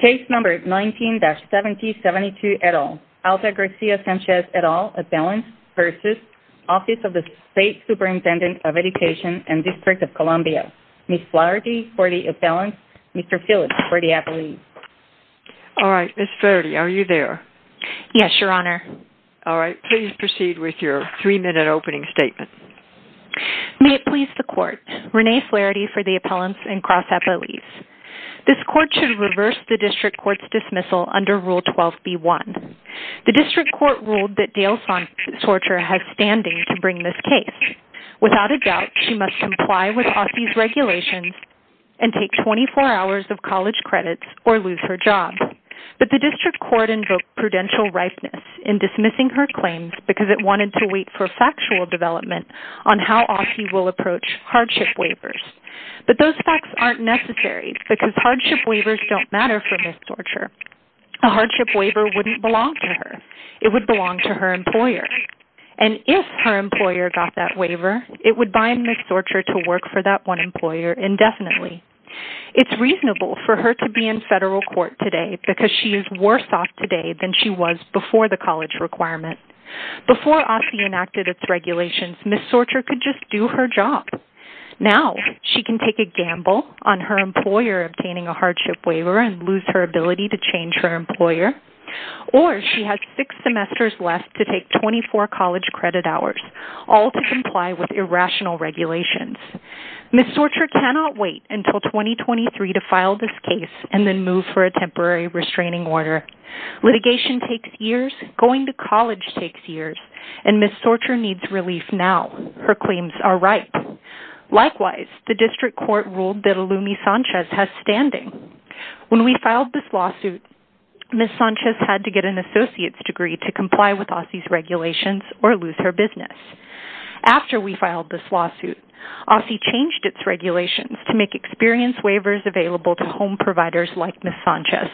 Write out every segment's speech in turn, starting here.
Case No. 19-7072 et al., Altagracia Sanchez et al., Appellant v. Office of the State Superintendent of Education and District of Columbia, Ms. Flaherty for the appellant, Mr. Phillips for the appellee. Alright, Ms. Flaherty, are you there? Yes, Your Honor. Alright, please proceed with your three-minute opening statement. May it please the Court, Renee Flaherty for the appellant and Cross Appellees. This Court should reverse the District Court's dismissal under Rule 12b-1. The District Court ruled that Dale Sorcher has standing to bring this case. Without a doubt, she must comply with Aussie's regulations and take 24 hours of college credits or lose her job. But the District Court invoked prudential ripeness in dismissing her claims because it wanted to wait for factual development on how Aussie will approach hardship waivers. But those facts aren't necessary because hardship waivers don't matter for Ms. Sorcher. A hardship waiver wouldn't belong to her. It would belong to her employer. And if her employer got that waiver, it would bind Ms. Sorcher to work for that one employer indefinitely. It's reasonable for her to be in federal court today because she is worse off today than she was before the college requirement. Before Aussie enacted its regulations, Ms. Sorcher could just do her job. Now, she can take a gamble on her employer obtaining a hardship waiver and lose her ability to change her employer. Or she has six semesters left to take 24 college credit hours, all to comply with irrational regulations. Ms. Sorcher cannot wait until 2023 to file this case and then move for a temporary restraining order. Litigation takes years, going to college takes years, and Ms. Sorcher needs relief now. Her claims are ripe. Likewise, the District Court ruled that Alumi Sanchez has standing. When we filed this lawsuit, Ms. Sanchez had to get an associate's degree to comply with Aussie's regulations or lose her business. After we filed this lawsuit, Aussie changed its regulations to make experience waivers available to home providers like Ms. Sanchez.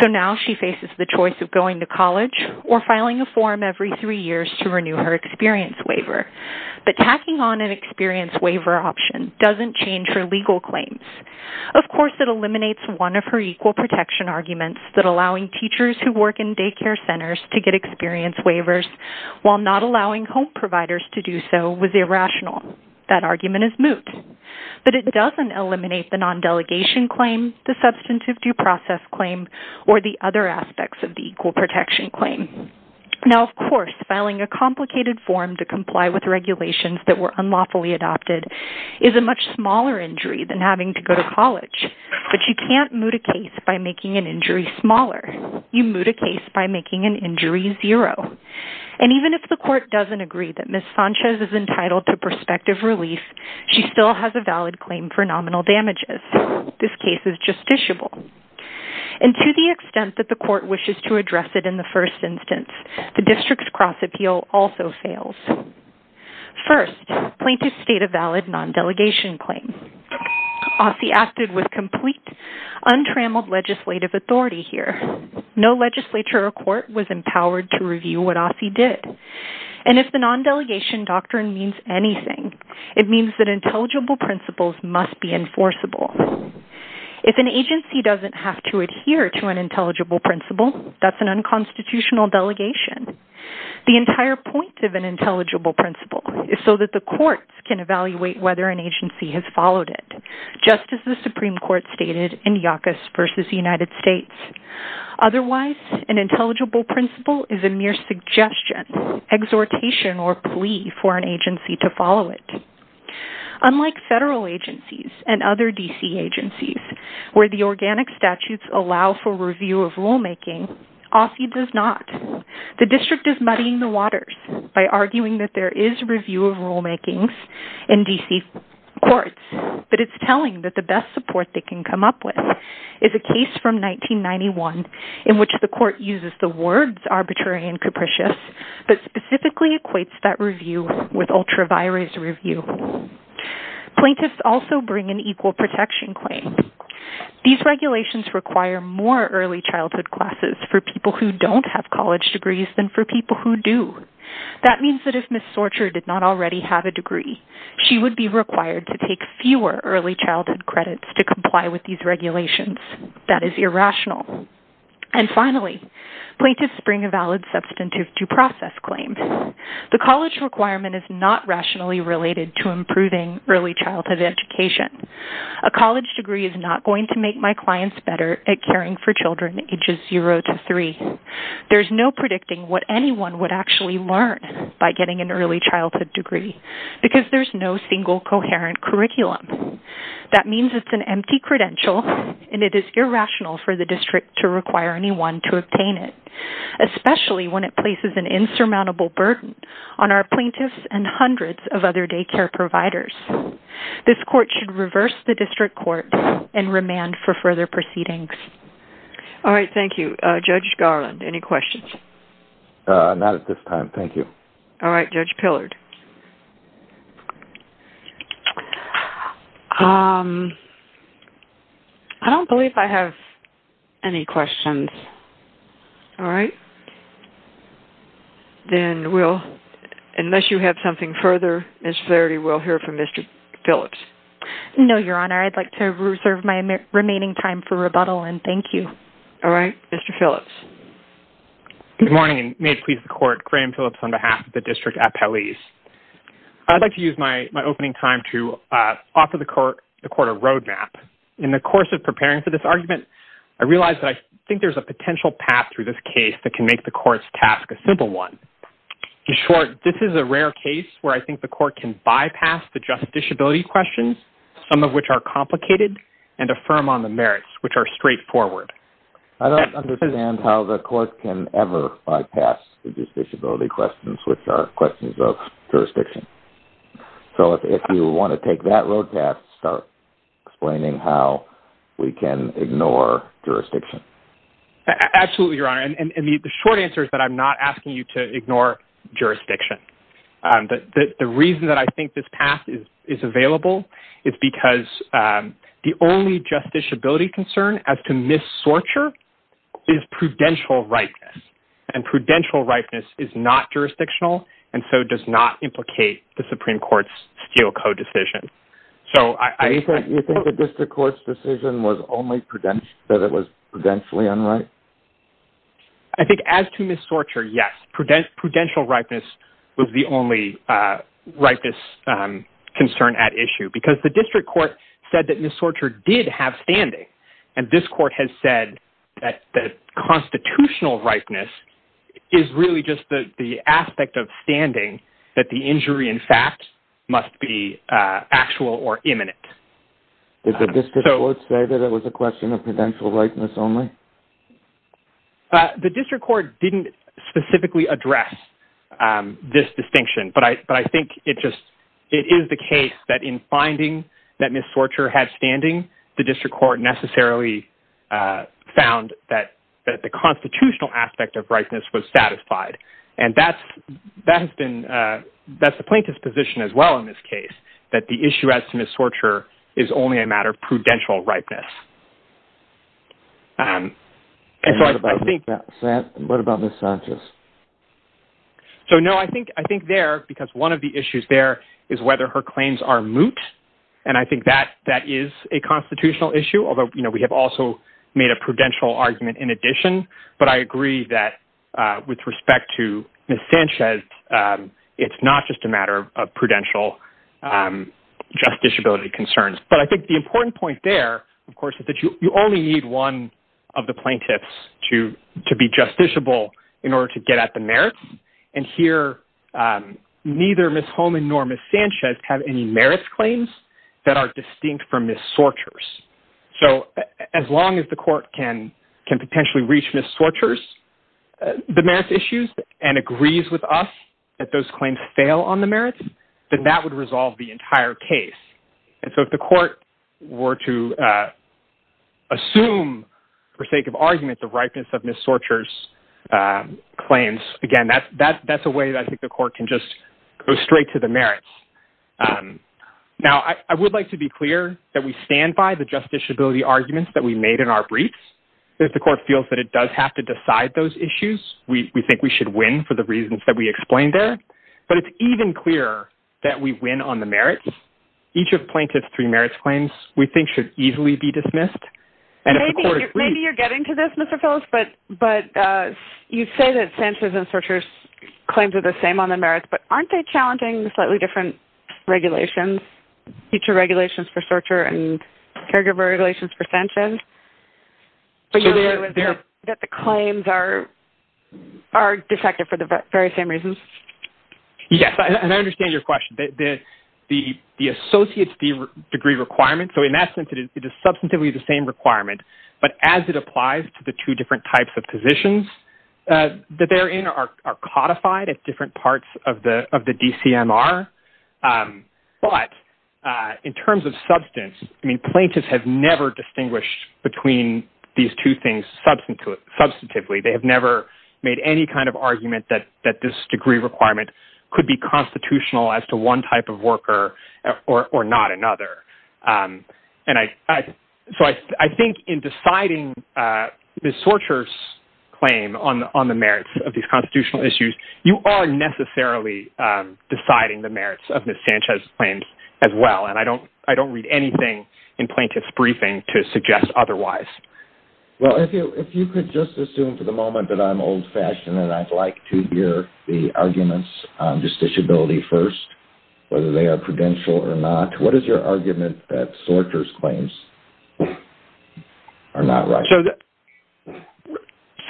So now she faces the choice of going to college or filing a form every three years to renew her experience waiver. But tacking on an experience waiver option doesn't change her legal claims. Of course, it eliminates one of her equal protection arguments that allowing teachers who work in daycare centers to get experience waivers while not allowing home providers to do so was irrational. That argument is moot. But it doesn't eliminate the non-delegation claim, the substantive due process claim, or the other aspects of the equal protection claim. Now, of course, filing a complicated form to comply with regulations that were unlawfully adopted is a much smaller injury than having to go to college. But you can't moot a case by making an injury smaller. You moot a case by making an injury zero. And even if the court doesn't agree that Ms. Sanchez is entitled to prospective relief, she still has a valid claim for nominal damages. This case is justiciable. And to the extent that the court wishes to address it in the first instance, the district's cross-appeal also fails. First, plaintiffs state a valid non-delegation claim. OSSI acted with complete, untrammeled legislative authority here. No legislature or court was empowered to review what OSSI did. And if the non-delegation doctrine means anything, it means that intelligible principles must be enforceable. If an agency doesn't have to adhere to an intelligible principle, that's an unconstitutional delegation. The entire point of an intelligible principle is so that the courts can evaluate whether an agency has followed it, just as the Supreme Court stated in Yacus v. United States. Otherwise, an intelligible principle is a mere suggestion, exhortation, or plea for an agency to follow it. Unlike federal agencies and other D.C. agencies, where the organic statutes allow for review of rulemaking, OSSI does not. The district is muddying the waters by arguing that there is review of rulemaking in D.C. courts, but it's telling that the best support they can come up with is a case from 1991 in which the court uses the words arbitrary and capricious, but specifically equates that review with ultra-virus review. Plaintiffs also bring an equal protection claim. These regulations require more early childhood classes for people who don't have college degrees than for people who do. That means that if Ms. Sorcher did not already have a degree, she would be required to take fewer early childhood credits to comply with these regulations. That is irrational. And finally, plaintiffs bring a valid substantive due process claim. The college requirement is not rationally related to improving early childhood education. A college degree is not going to make my clients better at caring for children ages 0 to 3. There's no predicting what anyone would actually learn by getting an early childhood degree because there's no single coherent curriculum. That means it's an empty credential, and it is irrational for the district to require anyone to obtain it, especially when it places an insurmountable burden on our plaintiffs and hundreds of other daycare providers. This court should reverse the district court and remand for further proceedings. All right. Thank you. Judge Garland, any questions? Not at this time. Thank you. All right. Judge Pillard. I don't believe I have any questions. All right. Then we'll, unless you have something further, Ms. Flaherty, we'll hear from Mr. Phillips. No, Your Honor. I'd like to reserve my remaining time for rebuttal, and thank you. All right. Mr. Phillips. Good morning, and may it please the court, Graham Phillips on behalf of the district appellees. I'd like to use my opening time to offer the court a roadmap. In the course of preparing for this argument, I realized that I think there's a potential path through this case that can make the court's task a simple one. In short, this is a rare case where I think the court can bypass the just disability questions, some of which are complicated, and affirm on the merits, which are straightforward. I don't understand how the court can ever bypass the just disability questions, which are questions of jurisdiction. So if you want to take that roadmap, start explaining how we can ignore jurisdiction. Absolutely, Your Honor, and the short answer is that I'm not asking you to ignore jurisdiction. The reason that I think this path is available is because the only just disability concern as to mis-sorture is prudential rightness, and prudential rightness is not jurisdictional, and so does not implicate the Supreme Court's Steele Code decision. Do you think the district court's decision was only that it was prudentially unright? I think as to mis-sorture, yes, prudential rightness was the only rightness concern at issue, because the district court said that mis-sorture did have standing, and this court has said that constitutional rightness is really just the aspect of standing that the injury, in fact, must be actual or imminent. Did the district court say that it was a question of prudential rightness only? The district court didn't specifically address this distinction, but I think it is the case that in finding that mis-sorture had standing, the district court necessarily found that the constitutional aspect of rightness was satisfied, and that's the plaintiff's position as well in this case, that the issue as to mis-sorture is only a matter of prudential rightness. What about mis-sorture? I think there, because one of the issues there is whether her claims are moot, and I think that is a constitutional issue, although we have also made a prudential argument in addition, but I agree that with respect to Ms. Sanchez, it's not just a matter of prudential justiciability concerns. But I think the important point there, of course, is that you only need one of the plaintiffs to be justiciable in order to get at the merits, and here neither Ms. Holman nor Ms. Sanchez have any merits claims that are distinct from mis-sortures. So as long as the court can potentially reach mis-sortures, the merits issues, and agrees with us that those claims fail on the merits, then that would resolve the entire case. And so if the court were to assume, for sake of argument, the ripeness of Ms. Sorcher's claims, again, that's a way that I think the court can just go straight to the merits. Now, I would like to be clear that we stand by the justiciability arguments that we made in our briefs. If the court feels that it does have to decide those issues, we think we should win for the reasons that we explained there. But it's even clearer that we win on the merits. Each of plaintiff's three merits claims, we think, should easily be dismissed. Maybe you're getting to this, Mr. Phillips, but you say that Sanchez and Sorcher's claims are the same on the merits, but aren't they challenging slightly different regulations, future regulations for Sorcher and caregiver regulations for Sanchez? Are you saying that the claims are defective for the very same reasons? Yes, and I understand your question. The associate's degree requirement, so in that sense, it is substantively the same requirement, but as it applies to the two different types of positions that they're in, are codified at different parts of the DCMR. But in terms of substance, I mean, plaintiffs have never distinguished between these two things substantively. They have never made any kind of argument that this degree requirement could be constitutional as to one type of worker or not another. So I think in deciding Ms. Sorcher's claim on the merits of these constitutional issues, you are necessarily deciding the merits of Ms. Sanchez's claims as well, and I don't read anything in plaintiff's briefing to suggest otherwise. Well, if you could just assume for the moment that I'm old-fashioned and I'd like to hear the arguments on distinguishability first, whether they are prudential or not. What is your argument that Sorcher's claims are not right?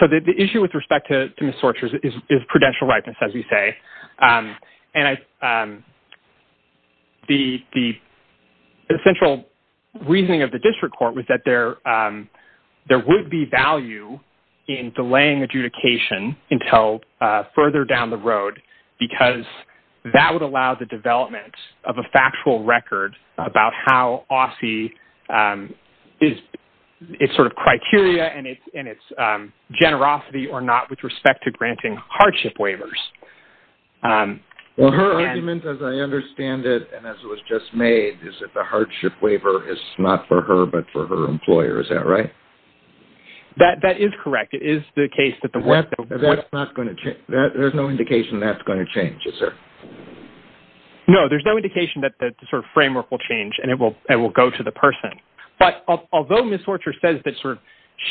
So the issue with respect to Ms. Sorcher's is prudential rightness, as we say, and the central reasoning of the district court was that there would be value in delaying adjudication until further down the road because that would allow the development of a factual record about how OSSI is sort of criteria and its generosity or not with respect to granting hardship waivers. Well, her argument, as I understand it and as it was just made, is that the hardship waiver is not for her but for her employer. Is that right? That is correct. There's no indication that's going to change, is there? No, there's no indication that the framework will change and it will go to the person. But although Ms. Sorcher says that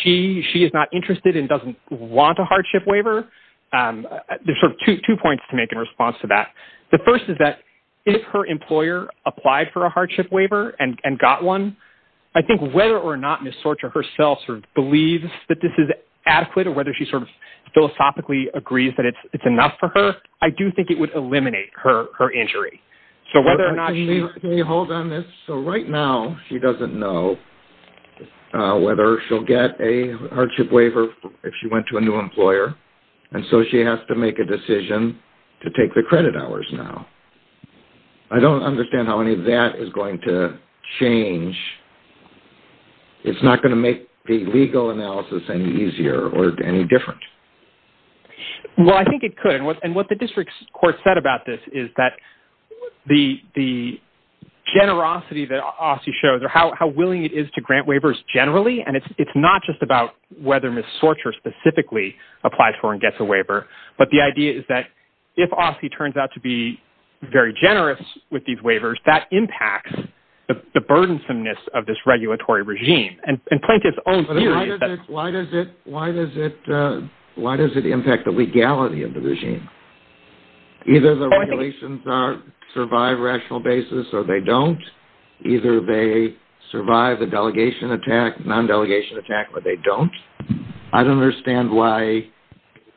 she is not interested and doesn't want a hardship waiver, there's sort of two points to make in response to that. The first is that if her employer applied for a hardship waiver and got one, I think whether or not Ms. Sorcher herself sort of believes that this is adequate or whether she sort of philosophically agrees that it's enough for her, I do think it would eliminate her injury. Can you hold on this? So right now she doesn't know whether she'll get a hardship waiver if she went to a new employer and so she has to make a decision to take the credit hours now. I don't understand how any of that is going to change. It's not going to make the legal analysis any easier or any different. Well, I think it could. And what the district court said about this is that the generosity that Aussie shows or how willing it is to grant waivers generally, and it's not just about whether Ms. Sorcher specifically applies for and gets a waiver, but the idea is that if Aussie turns out to be very generous with these waivers, that impacts the burdensomeness of this regulatory regime. And Plaintiff's own theory is that... But why does it impact the legality of the regime? Either the regulations survive rational basis or they don't. Either they survive the delegation attack, non-delegation attack, or they don't. I don't understand why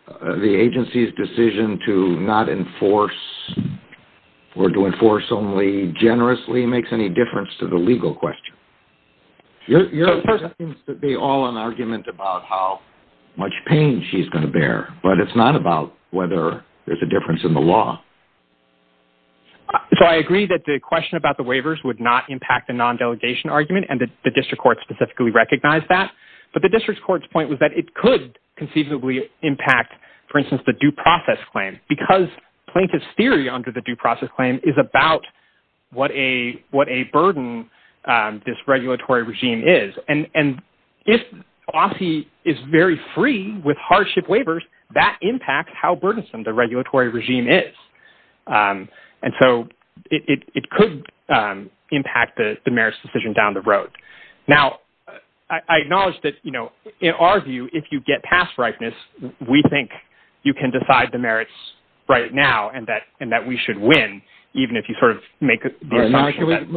the agency's decision to not enforce or to enforce only generously makes any difference to the legal question. Your question seems to be all an argument about how much pain she's going to bear, but it's not about whether there's a difference in the law. So I agree that the question about the waivers would not impact the non-delegation argument and the district court specifically recognized that, but the district court's point was that it could conceivably impact, for instance, the due process claim because Plaintiff's theory under the due process claim is about what a burden this regulatory regime is. And if Aussie is very free with hardship waivers, that impacts how burdensome the regulatory regime is. And so it could impact the merits decision down the road. Now, I acknowledge that, you know, in our view, if you get past ripeness, we think you can decide the merits right now and that we should win, even if you sort of make the assumption that... Can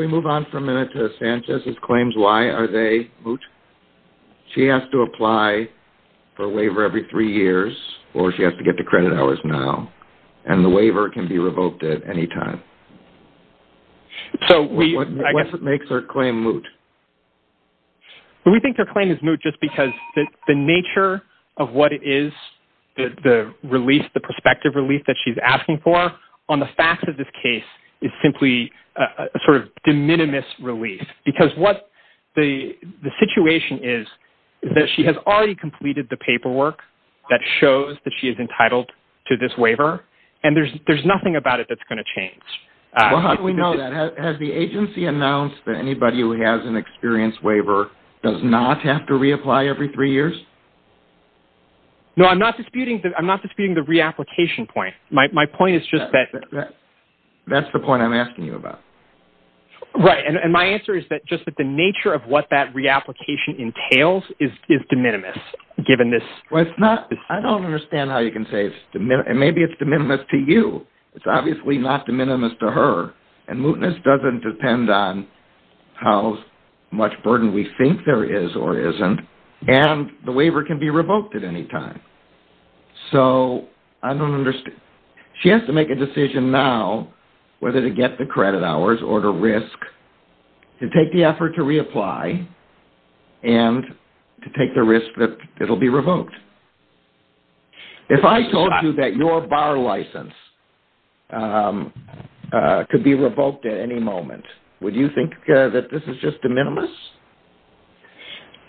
we move on for a minute to Sanchez's claims? Why are they moot? She has to apply for a waiver every three years or she has to get to credit hours now. And the waiver can be revoked at any time. What makes her claim moot? We think her claim is moot just because the nature of what it is, the release, the prospective release that she's asking for, on the facts of this case is simply a sort of de minimis release because what the situation is that she has already completed the paperwork that shows that she is entitled to this waiver and there's nothing about it that's going to change. How do we know that? Has the agency announced that anybody who has an experience waiver does not have to reapply every three years? No, I'm not disputing the reapplication point. My point is just that... That's the point I'm asking you about. Right, and my answer is just that the nature of what that reapplication entails is de minimis given this... I don't understand how you can say it's de minimis. And maybe it's de minimis to you. It's obviously not de minimis to her. And mootness doesn't depend on how much burden we think there is or isn't. And the waiver can be revoked at any time. So, I don't understand. She has to make a decision now whether to get the credit hours or to risk to take the effort to reapply and to take the risk that it'll be revoked. If I told you that your bar license could be revoked at any moment, would you think that this is just de minimis?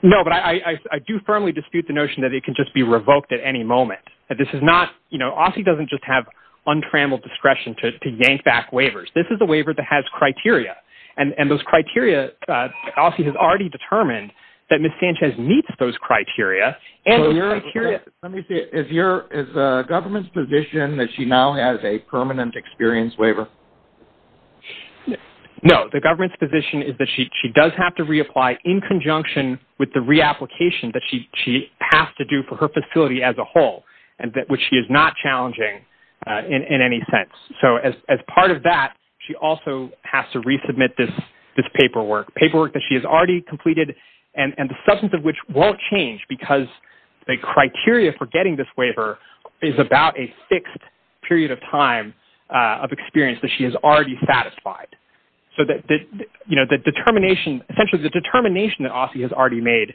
No, but I do firmly dispute the notion that it can just be revoked at any moment. That this is not... You know, Aussie doesn't just have untrammeled discretion to yank back waivers. This is a waiver that has criteria. And those criteria... Aussie has already determined that Ms. Sanchez meets those criteria. Let me see. Is the government's position that she now has a permanent experience waiver? No. The government's position is that she does have to reapply in conjunction with the reapplication that she has to do for her facility as a whole, which she is not challenging in any sense. So, as part of that, she also has to resubmit this paperwork, paperwork that she has already completed and the substance of which won't change because the criteria for getting this waiver is about a fixed period of time of experience that she has already satisfied. So, you know, the determination... Essentially, the determination that Aussie has already made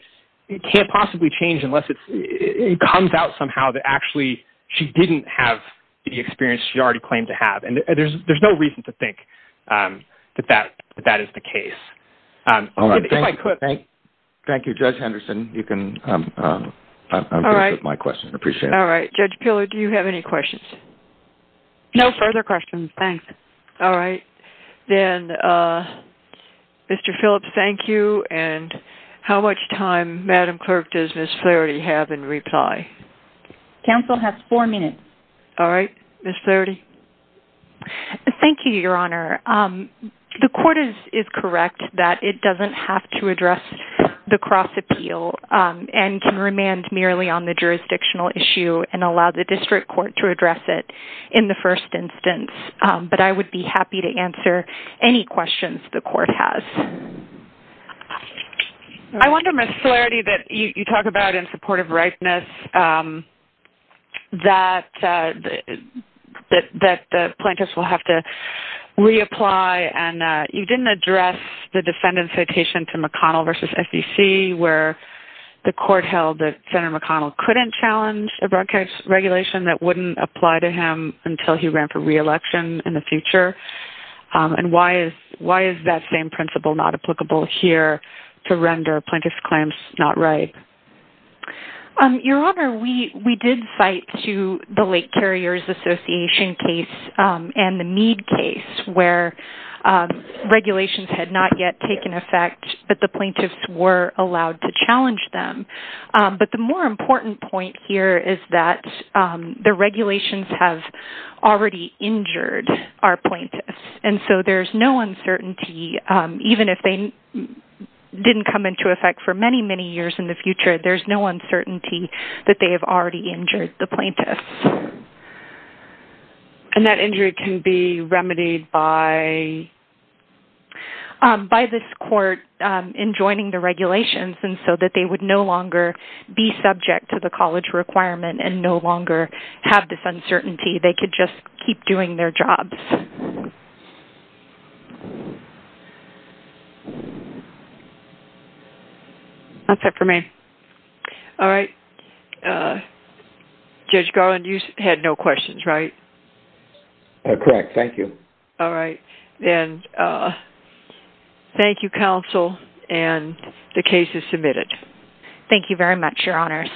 can't possibly change unless it comes out somehow that actually she didn't have the experience she already claimed to have. And there's no reason to think that that is the case. If I could... Thank you, Judge Henderson. You can... All right. I'm good with my questions. Appreciate it. All right. Judge Peeler, do you have any questions? No further questions, thanks. All right. Then, Mr. Phillips, thank you. And how much time, Madam Clerk, does Ms. Flaherty have in reply? Counsel has four minutes. All right. Ms. Flaherty? Thank you, Your Honor. The court is correct that it doesn't have to address the cross-appeal and can remand merely on the jurisdictional issue and allow the district court to address it in the first instance. But I would be happy to answer any questions the court has. I wonder, Ms. Flaherty, that you talk about in support of ripeness, that the plaintiffs will have to reapply, and you didn't address the defendant's citation to McConnell v. FEC where the court held that Senator McConnell couldn't challenge a broadcast regulation that wouldn't apply to him until he ran for re-election in the future. And why is that same principle not applicable here to render plaintiff's claims not right? Your Honor, we did cite to the Lake Carriers Association case and the Meade case where regulations had not yet taken effect, but the plaintiffs were allowed to challenge them. But the more important point here is that the regulations have already injured our plaintiffs, and so there's no uncertainty, even if they didn't come into effect for many, many years in the future, there's no uncertainty that they have already injured the plaintiffs. And that injury can be remedied by? By this court enjoining the regulations, and so that they would no longer be subject to the college requirement and no longer have this uncertainty. They could just keep doing their jobs. That's it for me. All right. Judge Garland, you had no questions, right? Correct. Thank you. All right. And thank you, counsel, and the case is submitted. Thank you very much, Your Honors.